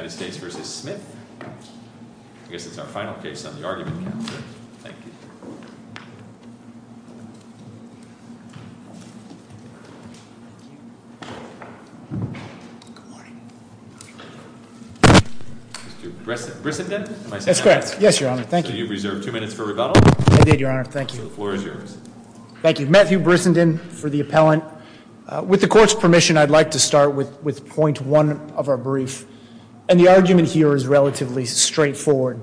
U.S. vs. Smith. I guess it's our final case on the argument. Thank you. Good morning. Mr. Brissenden? Am I saying that right? That's correct. Yes, Your Honor. Thank you. So you've reserved two minutes for rebuttal? I did, Your Honor. Thank you. The floor is yours. Thank you. Matthew Brissenden for the appellant. With the court's permission, I'd like to start with point one of our brief, and the argument here is relatively straightforward.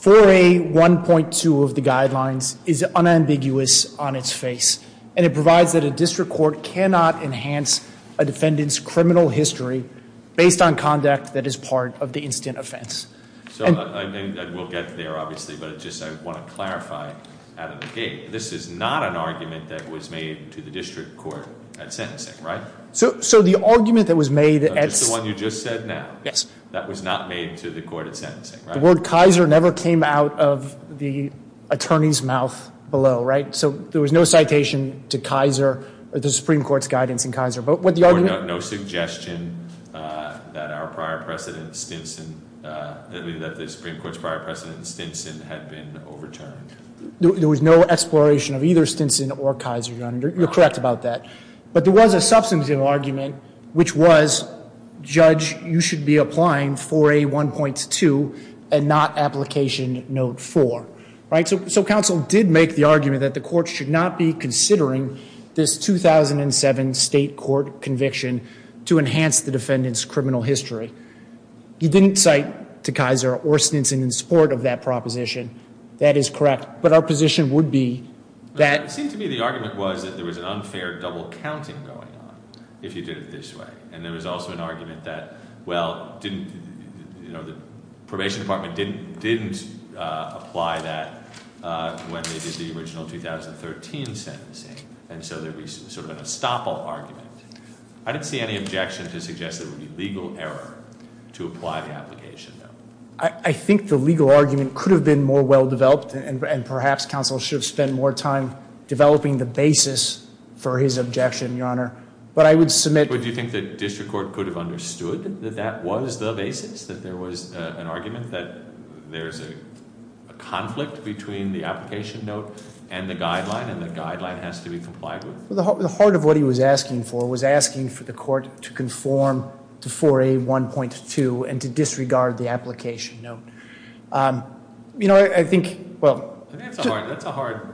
4A.1.2 of the guidelines is unambiguous on its face, and it provides that a district court cannot enhance a defendant's criminal history based on conduct that is part of the instant offense. So, and we'll get there, obviously, but I just want to clarify out of the gate, this is not an argument that was made to the district court at sentencing, right? So the argument that was made at Just the one you just said now. Yes. That was not made to the court at sentencing, right? The word Kaiser never came out of the attorney's mouth below, right? So there was no citation to Kaiser or the Supreme Court's guidance in Kaiser. But what the argument Or no suggestion that our prior precedent, Stinson, that the Supreme Court's prior precedent, Stinson, had been overturned. There was no exploration of either Stinson or Kaiser, Your Honor. You're correct about that. But there was a substantive argument, which was, Judge, you should be applying 4A.1.2 and not application note 4, right? So counsel did make the argument that the court should not be considering this 2007 state court conviction to enhance the defendant's criminal history. He didn't cite to Kaiser or Stinson in support of that proposition. That is correct. But our position would be that It seemed to me the argument was that there was an unfair double counting going on if you did it this way. And there was also an argument that, well, the probation department didn't apply that when they did the original 2013 sentencing. And so there'd be sort of an estoppel argument. I didn't see any objection to suggest that it would be legal error to apply the application note. I think the legal argument could have been more well-developed, and perhaps counsel should have spent more time developing the basis for his objection, Your Honor. But I would submit But do you think the district court could have understood that that was the basis, that there was an argument that there's a conflict between the application note and the guideline, and the guideline has to be complied with? The heart of what he was asking for was asking for the court to conform to 4A.1.2 and to disregard the application note. That's a hard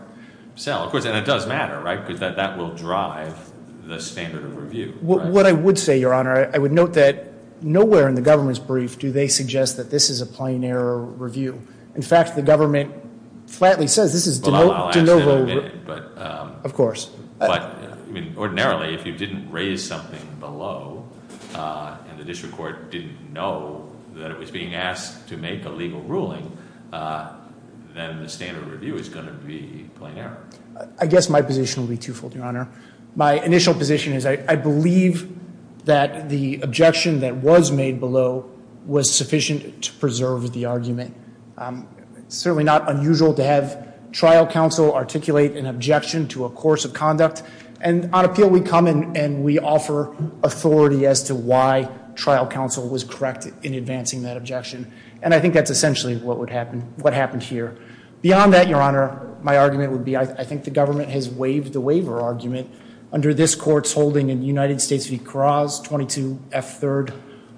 sell. And it does matter, right? Because that will drive the standard of review. What I would say, Your Honor, I would note that nowhere in the government's brief do they suggest that this is a plain error review. In fact, the government flatly says this is de novo. Well, I'll ask that in a minute. Of course. But ordinarily, if you didn't raise something below and the district court didn't know that it was being asked to make a legal ruling, then the standard of review is going to be plain error. I guess my position would be twofold, Your Honor. My initial position is I believe that the objection that was made below was sufficient to preserve the argument. It's certainly not unusual to have trial counsel articulate an objection to a course of conduct. And on appeal, we come and we offer authority as to why trial counsel was correct in advancing that objection. And I think that's essentially what happened here. Beyond that, Your Honor, my argument would be I think the government has waived the waiver argument under this court's holding in United States v. Carras, 22 F. 3,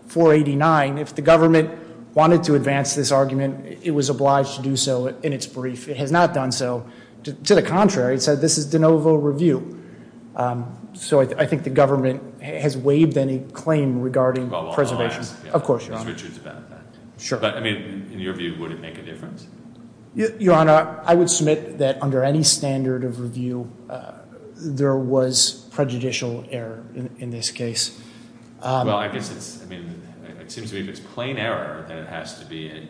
489. If the government wanted to advance this argument, it was obliged to do so in its brief. It has not done so. To the contrary, it said this is de novo review. So I think the government has waived any claim regarding preservation. I'll ask Mr. Richards about that. Sure. But, I mean, in your view, would it make a difference? Your Honor, I would submit that under any standard of review, there was prejudicial error in this case. Well, I guess it's, I mean, it seems to me if it's plain error, then it has to be an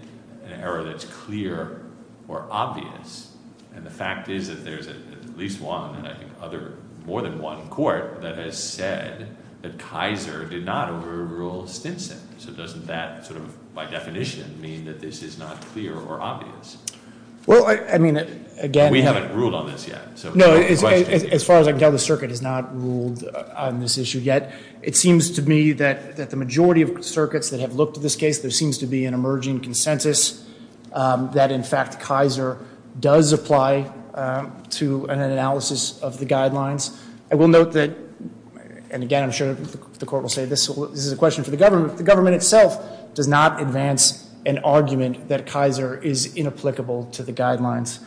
error that's clear or obvious. And the fact is that there's at least one, and I think other, more than one court that has said that Kaiser did not overrule Stinson. So doesn't that sort of, by definition, mean that this is not clear or obvious? Well, I mean, again- We haven't ruled on this yet. No, as far as I can tell, the circuit has not ruled on this issue yet. It seems to me that the majority of circuits that have looked at this case, there seems to be an emerging consensus that, in fact, Kaiser does apply to an analysis of the guidelines. I will note that, and again, I'm sure the court will say this is a question for the government, the government itself does not advance an argument that Kaiser is inapplicable to the guidelines.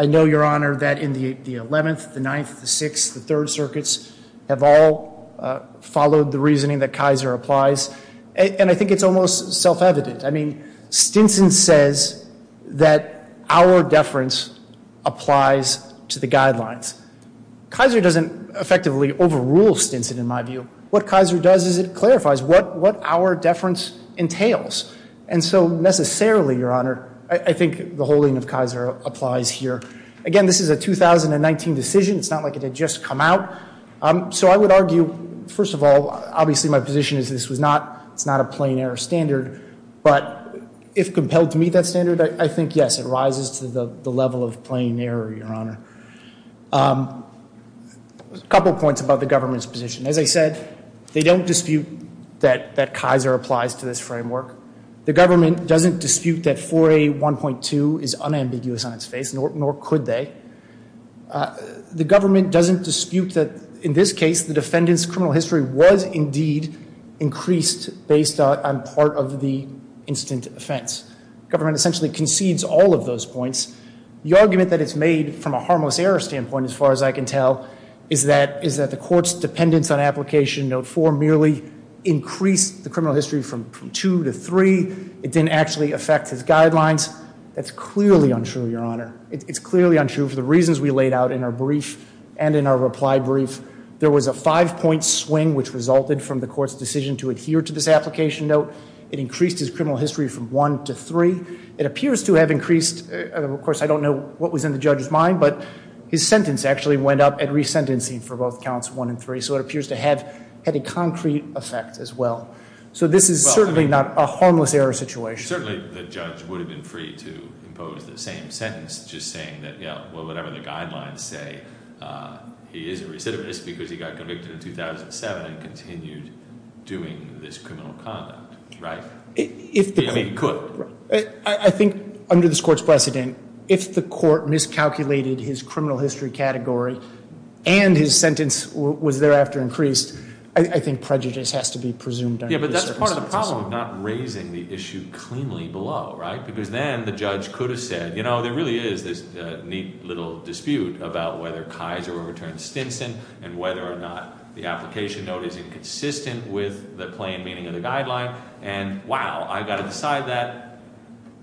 I know, Your Honor, that in the 11th, the 9th, the 6th, the 3rd circuits have all followed the reasoning that Kaiser applies, and I think it's almost self-evident. I mean, Stinson says that our deference applies to the guidelines. Kaiser doesn't effectively overrule Stinson, in my view. What Kaiser does is it clarifies what our deference entails. And so necessarily, Your Honor, I think the holding of Kaiser applies here. Again, this is a 2019 decision. It's not like it had just come out. So I would argue, first of all, obviously my position is this was not, it's not a plain error standard, but if compelled to meet that standard, I think, yes, it rises to the level of plain error, Your Honor. A couple of points about the government's position. As I said, they don't dispute that Kaiser applies to this framework. The government doesn't dispute that 4A.1.2 is unambiguous on its face, nor could they. The government doesn't dispute that, in this case, the defendant's criminal history was, indeed, increased based on part of the instant offense. Government essentially concedes all of those points. The argument that it's made from a harmless error standpoint, as far as I can tell, is that the court's dependence on application note 4 merely increased the criminal history from 2 to 3. It didn't actually affect his guidelines. That's clearly untrue, Your Honor. It's clearly untrue for the reasons we laid out in our brief and in our reply brief. There was a five-point swing which resulted from the court's decision to adhere to this application note. It increased his criminal history from 1 to 3. It appears to have increased. Of course, I don't know what was in the judge's mind, but his sentence actually went up at resentencing for both counts 1 and 3. So it appears to have had a concrete effect as well. So this is certainly not a harmless error situation. Certainly, the judge would have been free to impose the same sentence, just saying that, yeah, well, whatever the guidelines say, he is a recidivist because he got convicted in 2007 and continued doing this criminal conduct, right? He could. I think under this court's precedent, if the court miscalculated his criminal history category and his sentence was thereafter increased, I think prejudice has to be presumed under these circumstances. Yeah, but that's part of the problem of not raising the issue cleanly below, right? Because then the judge could have said, you know, there really is this neat little dispute about whether Kaiser overturned Stinson and whether or not the application note is inconsistent with the plain meaning of the guideline and, wow, I've got to decide that.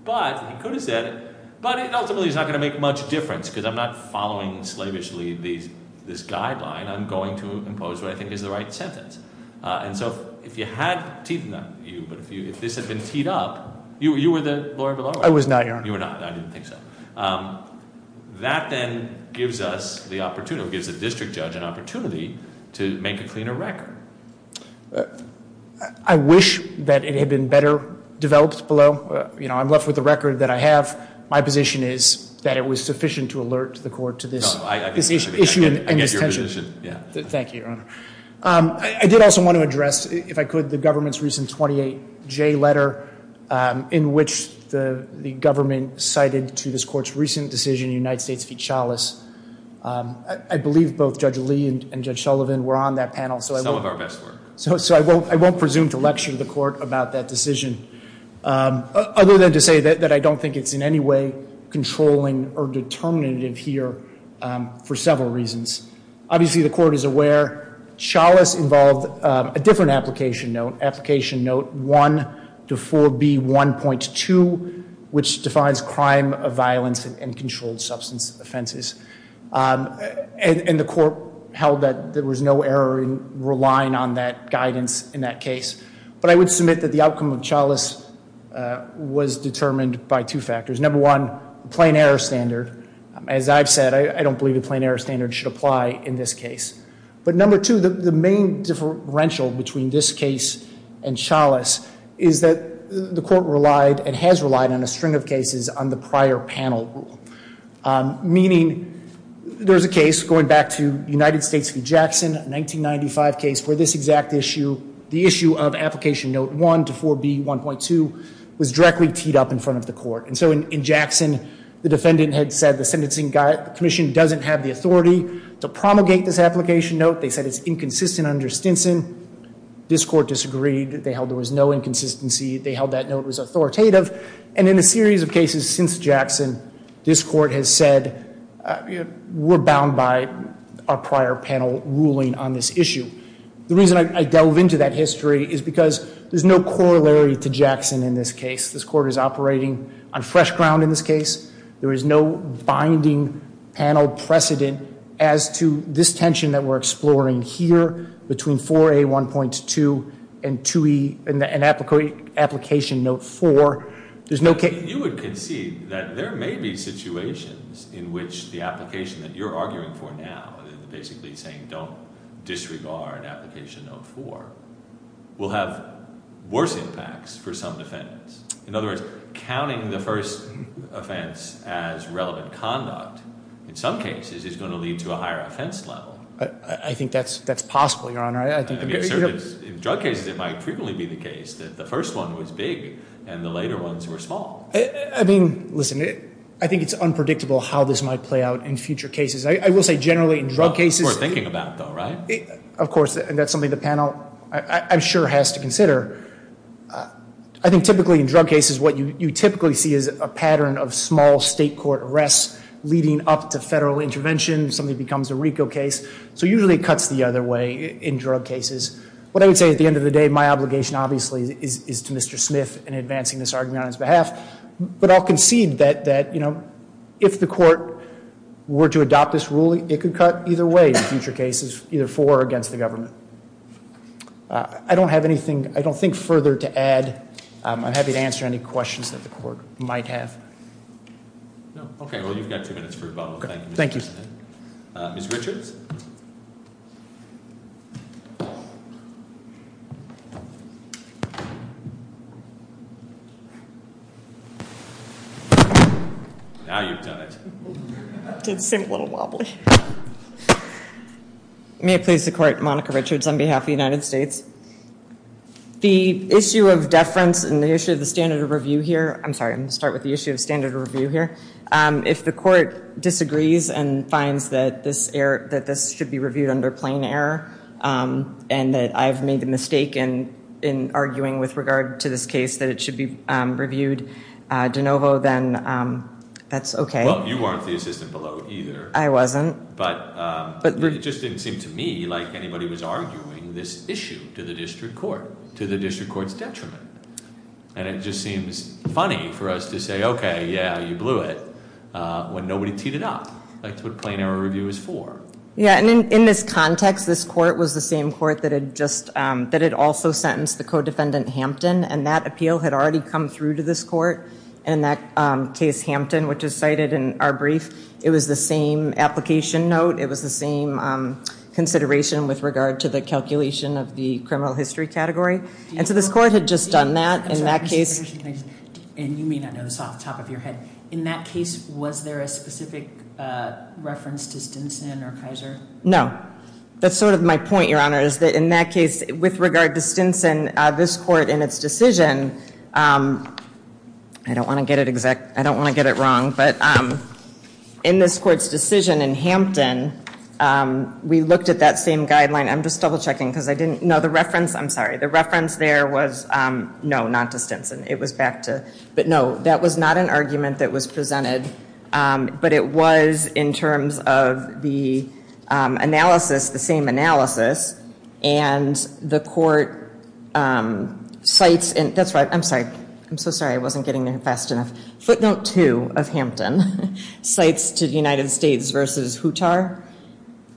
But he could have said it, but it ultimately is not going to make much difference because I'm not following slavishly this guideline. I'm going to impose what I think is the right sentence. And so if you had teeth in you, but if this had been teed up, you were the lawyer below, right? I was not, Your Honor. You were not. I didn't think so. That then gives us the opportunity, gives the district judge an opportunity to make a cleaner record. I wish that it had been better developed below. You know, I'm left with the record that I have. My position is that it was sufficient to alert the court to this issue and this tension. I get your position, yeah. Thank you, Your Honor. I did also want to address, if I could, the government's recent 28J letter in which the government cited to this court's recent decision in the United States v. Chalice. I believe both Judge Lee and Judge Sullivan were on that panel. Some of our best work. So I won't presume to lecture the court about that decision, other than to say that I don't think it's in any way controlling or determinative here for several reasons. Obviously, the court is aware. Chalice involved a different application note, application note 1-4B1.2, which defines crime of violence and controlled substance offenses. And the court held that there was no error in relying on that guidance in that case. But I would submit that the outcome of Chalice was determined by two factors. Number one, plain error standard. As I've said, I don't believe a plain error standard should apply in this case. But number two, the main differential between this case and Chalice is that the court relied and has relied on a string of cases on the prior panel rule. Meaning, there's a case going back to United States v. Jackson, 1995 case for this exact issue. The issue of application note 1-4B1.2 was directly teed up in front of the court. And so in Jackson, the defendant had said the sentencing commission doesn't have the authority to promulgate this application note. They said it's inconsistent under Stinson. This court disagreed. They held there was no inconsistency. They held that note was authoritative. And in a series of cases since Jackson, this court has said we're bound by our prior panel ruling on this issue. The reason I delve into that history is because there's no corollary to Jackson in this case. This court is operating on fresh ground in this case. There is no binding panel precedent as to this tension that we're exploring here between 4A1.2 and 2E and application note 4. There's no case... conduct in some cases is going to lead to a higher offense level. I think that's possible, Your Honor. I think... In drug cases it might frequently be the case that the first one was big and the later ones were small. I mean, listen, I think it's unpredictable how this might play out in future cases. I will say generally in drug cases... That's what we're thinking about though, right? I think typically in drug cases what you typically see is a pattern of small state court arrests leading up to federal intervention. Something becomes a RICO case. So usually it cuts the other way in drug cases. What I would say at the end of the day, my obligation obviously is to Mr. Smith in advancing this argument on his behalf. But I'll concede that if the court were to adopt this ruling, it could cut either way in future cases, either for or against the government. I don't have anything... I don't think further to add. I'm happy to answer any questions that the court might have. Okay. Well, you've got two minutes for rebuttal. Thank you, Mr. Smith. Thank you. Ms. Richards? Now you've done it. It did seem a little wobbly. May it please the court. Monica Richards on behalf of the United States. The issue of deference and the issue of the standard of review here... I'm sorry. I'm going to start with the issue of standard of review here. If the court disagrees and finds that this should be reviewed under plain error and that I've made the mistake in arguing with regard to this case that it should be reviewed de novo, then that's okay. Well, you weren't the assistant below either. I wasn't. But it just didn't seem to me like anybody was arguing this issue to the district court, to the district court's detriment. And it just seems funny for us to say, okay, yeah, you blew it, when nobody teed it up. That's what plain error review is for. Yeah. And in this context, this court was the same court that had also sentenced the co-defendant Hampton, and that appeal had already come through to this court. And in that case, Hampton, which is cited in our brief, it was the same application note. It was the same consideration with regard to the calculation of the criminal history category. And so this court had just done that. In that case... And you may not know this off the top of your head. In that case, was there a specific reference to Stinson or Kaiser? No. That's sort of my point, Your Honor, is that in that case, with regard to Stinson, this court in its decision... I don't want to get it wrong, but in this court's decision in Hampton, we looked at that same guideline. I'm just double-checking because I didn't... No, the reference... I'm sorry. The reference there was no, not to Stinson. It was back to... And the court cites... That's right. I'm sorry. I'm so sorry. I wasn't getting there fast enough. Footnote 2 of Hampton cites to the United States versus Hootar.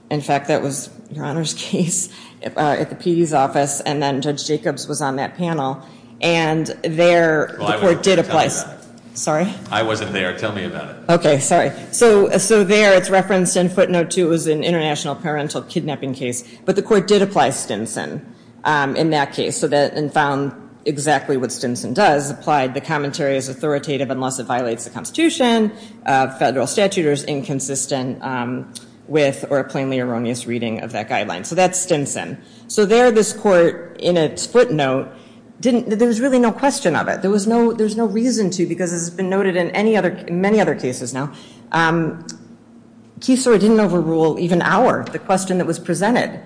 In fact, that was Your Honor's case at the PD's office, and then Judge Jacobs was on that panel. And there... Well, I wasn't there. Tell me about it. Sorry? I wasn't there. Tell me about it. Okay. Sorry. So there, it's referenced in footnote 2 as an international parental kidnapping case, but the court did apply Stinson in that case and found exactly what Stinson does, applied the commentary as authoritative unless it violates the Constitution, federal statute, or is inconsistent with or a plainly erroneous reading of that guideline. So that's Stinson. So there, this court in its footnote didn't... There was really no question of it. There was no reason to because this has been noted in many other cases now. QSOR didn't overrule even Auer, the question that was presented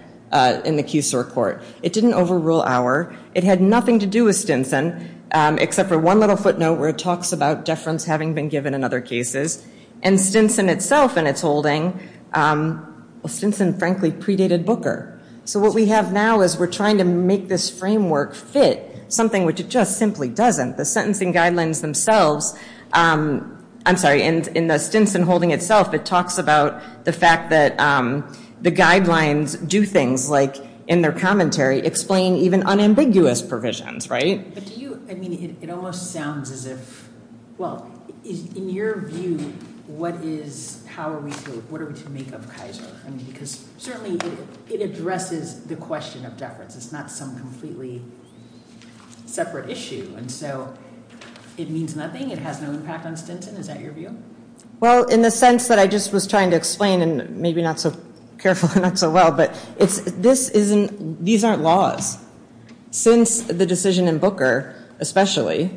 in the QSOR court. It didn't overrule Auer. It had nothing to do with Stinson except for one little footnote where it talks about deference having been given in other cases. And Stinson itself in its holding... Well, Stinson, frankly, predated Booker. So what we have now is we're trying to make this framework fit something which it just simply doesn't. The sentencing guidelines themselves... I'm sorry. In the Stinson holding itself, it talks about the fact that the guidelines do things, like in their commentary, explain even unambiguous provisions, right? But do you... I mean, it almost sounds as if... Well, in your view, what is... How are we to... What are we to make of QSOR? I mean, because certainly it addresses the question of deference. It's not some completely separate issue. And so it means nothing. It has no impact on Stinson. Is that your view? Well, in the sense that I just was trying to explain, and maybe not so carefully, not so well, but this isn't... these aren't laws. Since the decision in Booker, especially,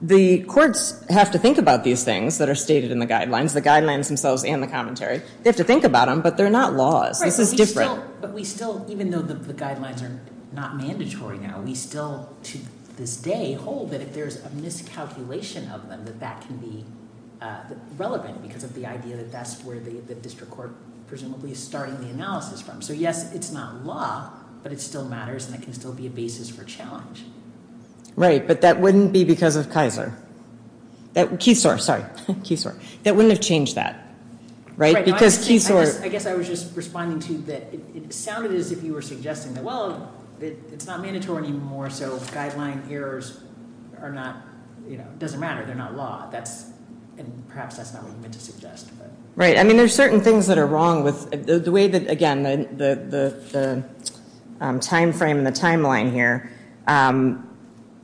the courts have to think about these things that are stated in the guidelines, the guidelines themselves and the commentary. They have to think about them, but they're not laws. This is different. But we still, even though the guidelines are not mandatory now, we still, to this day, hold that if there's a miscalculation of them, that that can be relevant because of the idea that that's where the district court, presumably, is starting the analysis from. So, yes, it's not law, but it still matters and it can still be a basis for challenge. Right, but that wouldn't be because of Kaiser. QSOR, sorry, QSOR. That wouldn't have changed that, right? Because QSOR... It sounded as if you were suggesting that, well, it's not mandatory anymore, so guideline errors are not... it doesn't matter. They're not law. That's... and perhaps that's not what you meant to suggest. Right. I mean, there's certain things that are wrong with... the way that, again, the timeframe and the timeline here,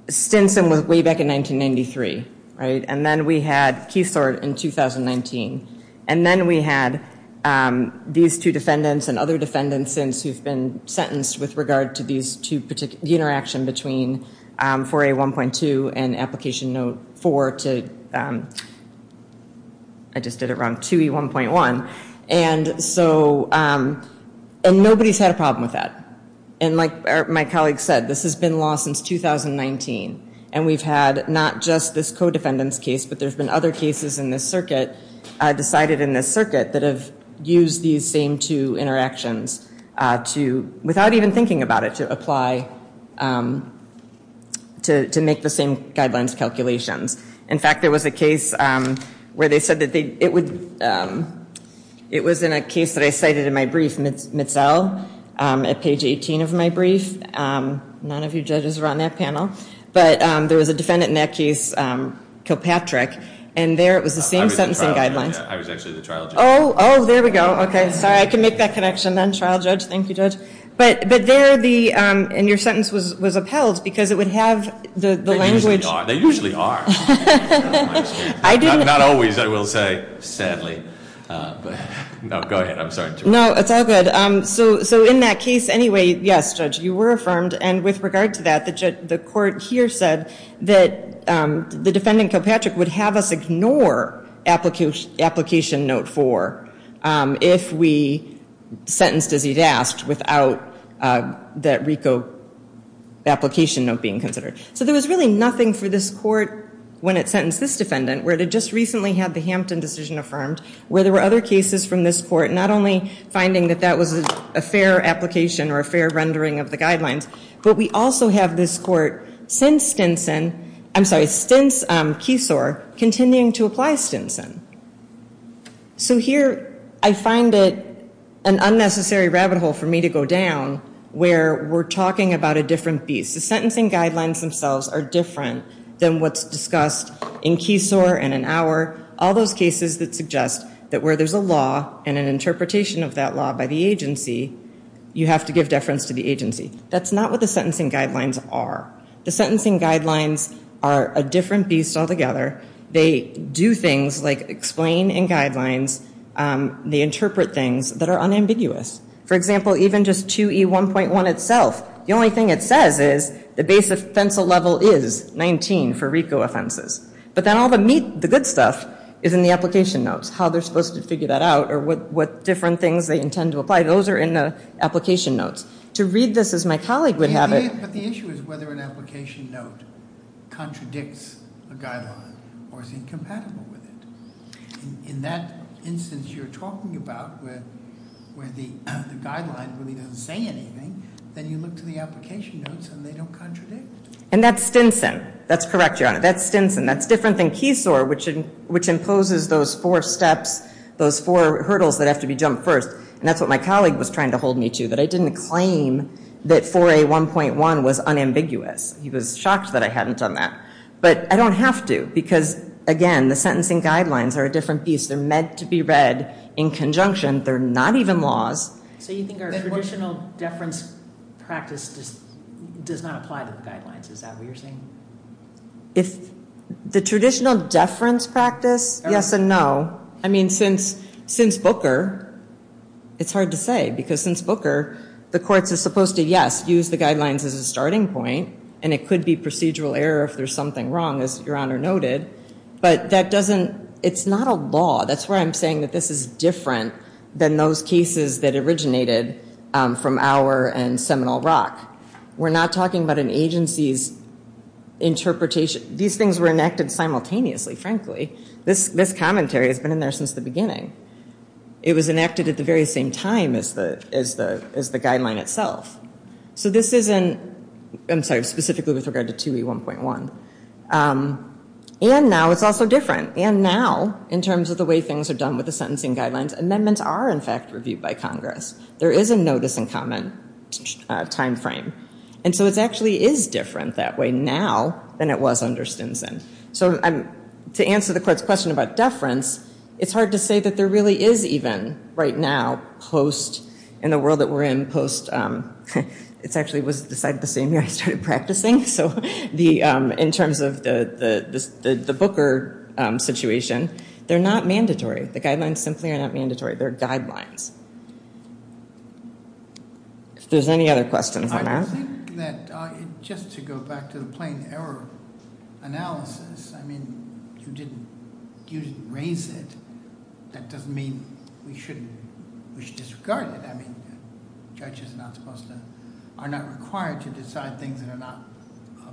Stinson was way back in 1993, right? And then we had QSOR in 2019. And then we had these two defendants and other defendants since who've been sentenced with regard to these two... the interaction between 4A1.2 and Application Note 4 to... I just did it wrong... 2E1.1. And so... and nobody's had a problem with that. And like my colleague said, this has been law since 2019. And we've had not just this co-defendant's case, but there's been other cases in this circuit decided in this circuit that have used these same two interactions to... without even thinking about it, to apply... to make the same guidelines calculations. In fact, there was a case where they said that they... it would... it was in a case that I cited in my brief, Mitzell, at page 18 of my brief. None of you judges were on that panel. But there was a defendant in that case, Kilpatrick. And there it was the same sentencing guidelines. I was actually the trial judge. Oh, oh, there we go. Okay, sorry. I can make that connection then. Trial judge. Thank you, judge. But there the... and your sentence was upheld because it would have the language... They usually are. They usually are. Not always, I will say, sadly. No, go ahead. I'm sorry to interrupt. No, it's all good. So in that case anyway, yes, judge, you were affirmed. And with regard to that, the court here said that the defendant, Kilpatrick, would have us ignore application note four if we sentenced as he'd asked without that RICO application note being considered. So there was really nothing for this court, when it sentenced this defendant, where it had just recently had the Hampton decision affirmed, where there were other cases from this court, not only finding that that was a fair application or a fair rendering of the guidelines, but we also have this court since Stinson, I'm sorry, since Keesor, continuing to apply Stinson. So here I find it an unnecessary rabbit hole for me to go down, where we're talking about a different beast. The sentencing guidelines themselves are different than what's discussed in Keesor and in Auer, all those cases that suggest that where there's a law and an interpretation of that law by the agency, you have to give deference to the agency. That's not what the sentencing guidelines are. The sentencing guidelines are a different beast altogether. They do things like explain in guidelines. They interpret things that are unambiguous. For example, even just 2E1.1 itself, the only thing it says is the base offensive level is 19 for RICO offenses. But then all the meat, the good stuff, is in the application notes, how they're supposed to figure that out or what different things they intend to apply. Those are in the application notes. To read this as my colleague would have it. But the issue is whether an application note contradicts a guideline or is incompatible with it. In that instance you're talking about where the guideline really doesn't say anything, then you look to the application notes and they don't contradict. And that's Stinson. That's correct, Your Honor. That's Stinson. That's different than Keysore, which imposes those four steps, those four hurdles that have to be jumped first. And that's what my colleague was trying to hold me to, that I didn't claim that 4A1.1 was unambiguous. He was shocked that I hadn't done that. But I don't have to because, again, the sentencing guidelines are a different beast. They're meant to be read in conjunction. They're not even laws. So you think our traditional deference practice does not apply to the guidelines? Is that what you're saying? If the traditional deference practice, yes and no. I mean, since Booker, it's hard to say because since Booker, the courts are supposed to, yes, use the guidelines as a starting point and it could be procedural error if there's something wrong, as Your Honor noted. But that doesn't, it's not a law. That's why I'm saying that this is different than those cases that originated from Auer and Seminole Rock. We're not talking about an agency's interpretation. These things were enacted simultaneously, frankly. This commentary has been in there since the beginning. It was enacted at the very same time as the guideline itself. So this isn't, I'm sorry, specifically with regard to 2E1.1. And now it's also different. And now, in terms of the way things are done with the sentencing guidelines, amendments are, in fact, reviewed by Congress. There is a notice and comment time frame. And so it actually is different that way now than it was under Stinson. So to answer the court's question about deference, it's hard to say that there really is even, right now, post, in the world that we're in, post, it actually was decided the same year I started practicing. So in terms of the Booker situation, they're not mandatory. The guidelines simply are not mandatory. They're guidelines. If there's any other questions, I'm out. I think that just to go back to the plain error analysis, I mean, you didn't raise it. That doesn't mean we should disregard it. I mean, judges are not supposed to, are not required to decide things that are not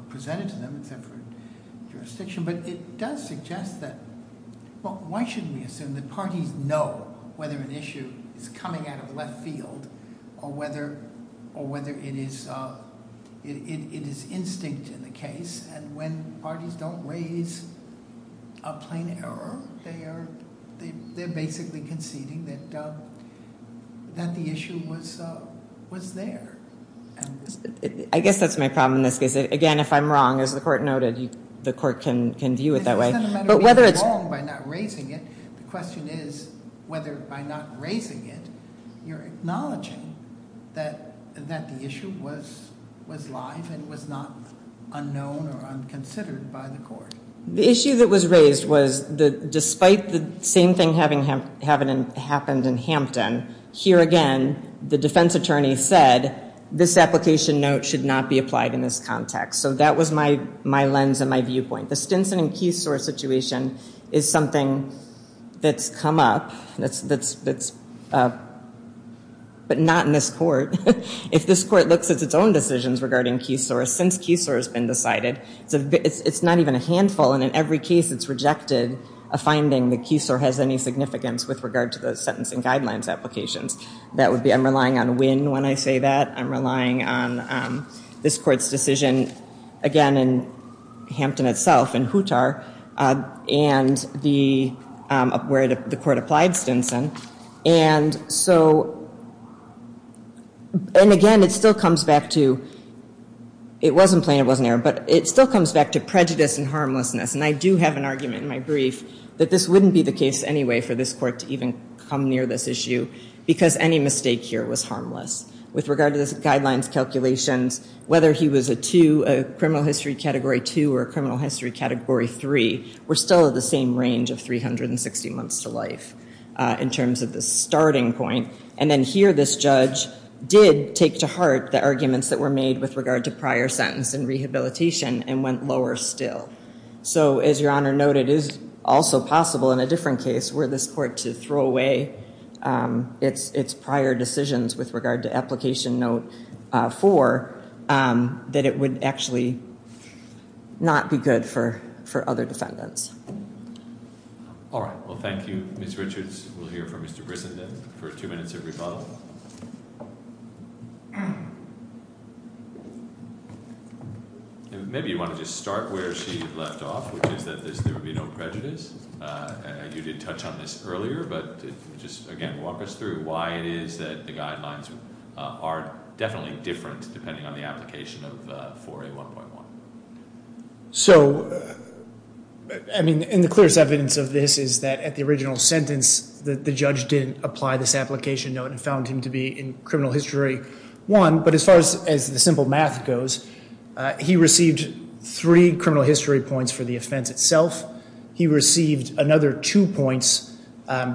presented to them except for jurisdiction. But it does suggest that, well, why should we assume that parties know whether an issue is coming out of left field or whether it is instinct in the case? And when parties don't raise a plain error, they're basically conceding that the issue was there. I guess that's my problem in this case. Again, if I'm wrong, as the court noted, the court can view it that way. But whether it's wrong by not raising it, the question is whether by not raising it, you're acknowledging that the issue was live and was not unknown or unconsidered by the court. The issue that was raised was that despite the same thing having happened in Hampton, here again, the defense attorney said, this application note should not be applied in this context. So that was my lens and my viewpoint. The Stinson and Keesor situation is something that's come up, but not in this court. If this court looks at its own decisions regarding Keesor, since Keesor has been decided, it's not even a handful. And in every case, it's rejected a finding that Keesor has any significance with regard to the sentencing guidelines applications. That would be, I'm relying on Winn when I say that. I'm relying on this court's decision, again, in Hampton itself, in Hootar, where the court applied Stinson. And so, and again, it still comes back to, it wasn't plain, it wasn't error, but it still comes back to prejudice and harmlessness. And I do have an argument in my brief that this wouldn't be the case anyway for this court to even come near this issue because any mistake here was harmless. With regard to this guidelines calculations, whether he was a two, a criminal history category two, or a criminal history category three, we're still at the same range of 360 months to life in terms of the starting point. And then here, this judge did take to heart the arguments that were made with regard to prior sentence and rehabilitation and went lower still. So, as your honor noted, it is also possible in a different case where this court to throw away its prior decisions with regard to application note four, that it would actually not be good for other defendants. All right. Well, thank you, Ms. Richards. We'll hear from Mr. Brisson for two minutes of rebuttal. Maybe you want to just start where she left off, which is that there would be no prejudice. You did touch on this earlier, but just again, walk us through why it is that the guidelines are definitely different depending on the application of 4A1.1. So, I mean, and the clearest evidence of this is that at the original sentence, the judge didn't apply this application note and found him to be in criminal history one. But as far as the simple math goes, he received three criminal history points for the offense itself. He received another two points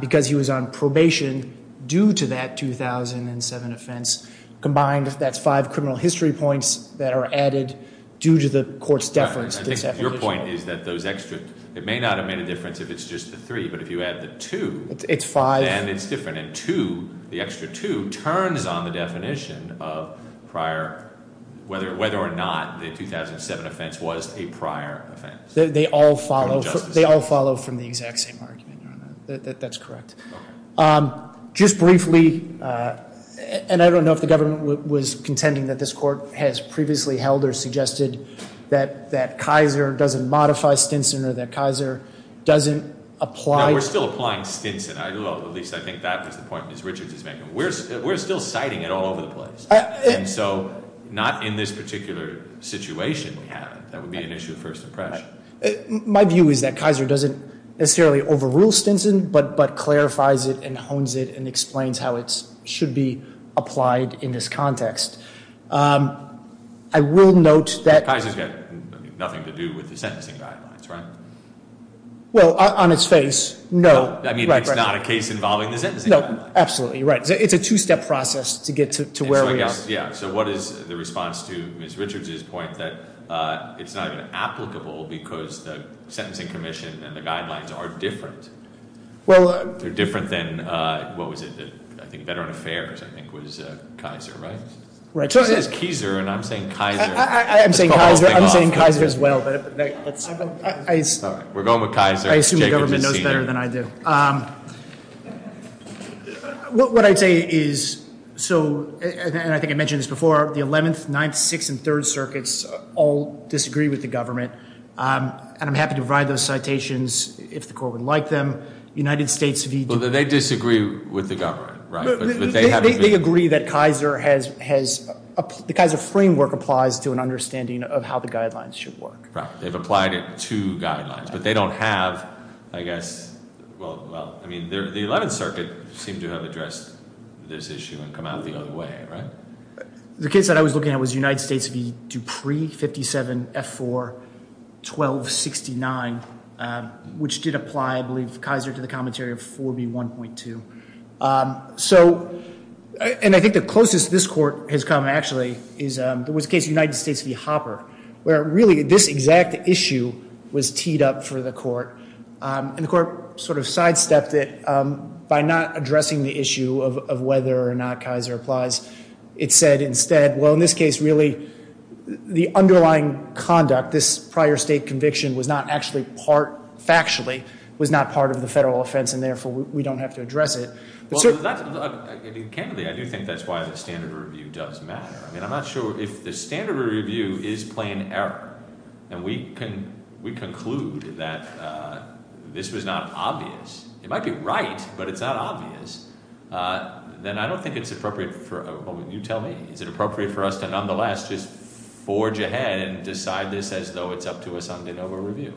because he was on probation due to that 2007 offense. Combined, that's five criminal history points that are added due to the court's deference. I think your point is that those extra, it may not have made a difference if it's just the three, but if you add the two. It's five. And it's different. And two, the extra two, turns on the definition of whether or not the 2007 offense was a prior offense. They all follow from the exact same argument, Your Honor. That's correct. Okay. Just briefly, and I don't know if the government was contending that this court has previously held or suggested that Kaiser doesn't modify Stinson or that Kaiser doesn't apply- No, we're still applying Stinson. At least I think that was the point Ms. Richards was making. We're still citing it all over the place. And so, not in this particular situation we have. That would be an issue of first impression. My view is that Kaiser doesn't necessarily overrule Stinson, but clarifies it and hones it and explains how it should be applied in this context. I will note that- Kaiser's got nothing to do with the sentencing guidelines, right? Well, on its face, no. I mean, it's not a case involving the sentencing guidelines. No, absolutely right. It's a two-step process to get to where we are. Yeah, so what is the response to Ms. Richards' point that it's not even applicable because the sentencing commission and the guidelines are different? They're different than, what was it, I think Veteran Affairs, I think was Kaiser, right? Right. She says Kaiser, and I'm saying Kaiser. I'm saying Kaiser as well. We're going with Kaiser. I assume the government knows better than I do. What I'd say is, and I think I mentioned this before, the 11th, 9th, 6th, and 3rd Circuits all disagree with the government. And I'm happy to provide those citations if the court would like them. United States v. Well, they disagree with the government, right? They agree that Kaiser has, the Kaiser framework applies to an understanding of how the guidelines should work. They've applied it to guidelines. But they don't have, I guess, well, I mean, the 11th Circuit seemed to have addressed this issue and come out the other way, right? The case that I was looking at was United States v. Dupree, 57F4-1269, which did apply, I believe, Kaiser to the commentary of 4B1.2. So, and I think the closest this court has come, actually, is there was a case, United States v. Hopper, where really this exact issue was teed up for the court. And the court sort of sidestepped it by not addressing the issue of whether or not Kaiser applies. It said instead, well, in this case, really, the underlying conduct, this prior state conviction was not actually part, factually, was not part of the federal offense, and therefore, we don't have to address it. Well, candidly, I do think that's why the standard review does matter. I mean, I'm not sure if the standard review is plain error, and we conclude that this was not obvious. It might be right, but it's not obvious. Then I don't think it's appropriate for, you tell me, is it appropriate for us to nonetheless just forge ahead and decide this as though it's up to us on de novo review?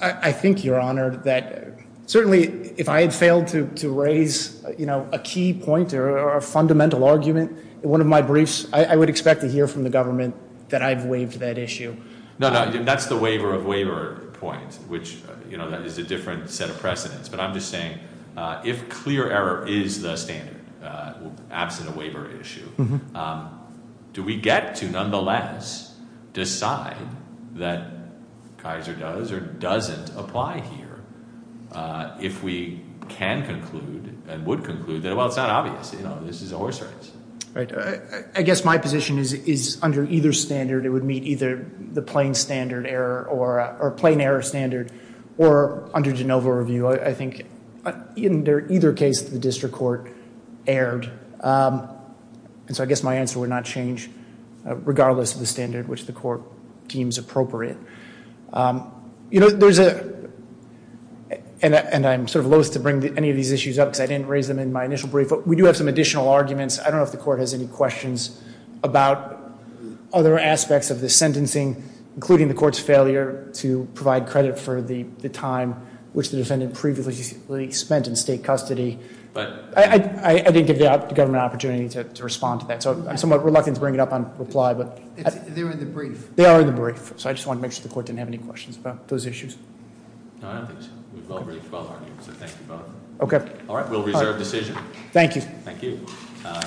I think, Your Honor, that certainly if I had failed to raise, you know, a key point or a fundamental argument in one of my briefs, I would expect to hear from the government that I've waived that issue. No, no, that's the waiver of waiver point, which, you know, that is a different set of precedents. But I'm just saying if clear error is the standard, absent a waiver issue, do we get to nonetheless decide that Kaiser does or doesn't apply here if we can conclude and would conclude that, well, it's not obvious. You know, this is a horse race. I guess my position is under either standard it would meet either the plain standard error or plain error standard or under de novo review. I think in either case the district court erred. And so I guess my answer would not change regardless of the standard which the court deems appropriate. You know, there's a, and I'm sort of loathe to bring any of these issues up because I didn't raise them in my initial brief, but we do have some additional arguments. I don't know if the court has any questions about other aspects of the sentencing, including the court's failure to provide credit for the time which the defendant previously spent in state custody. But I didn't give the government an opportunity to respond to that. So I'm somewhat reluctant to bring it up on reply, but. They're in the brief. They are in the brief. So I just wanted to make sure the court didn't have any questions about those issues. No, I don't think so. We've already filed arguments, so thank you both. Okay. All right, we'll reserve decision. Thank you. Thank you.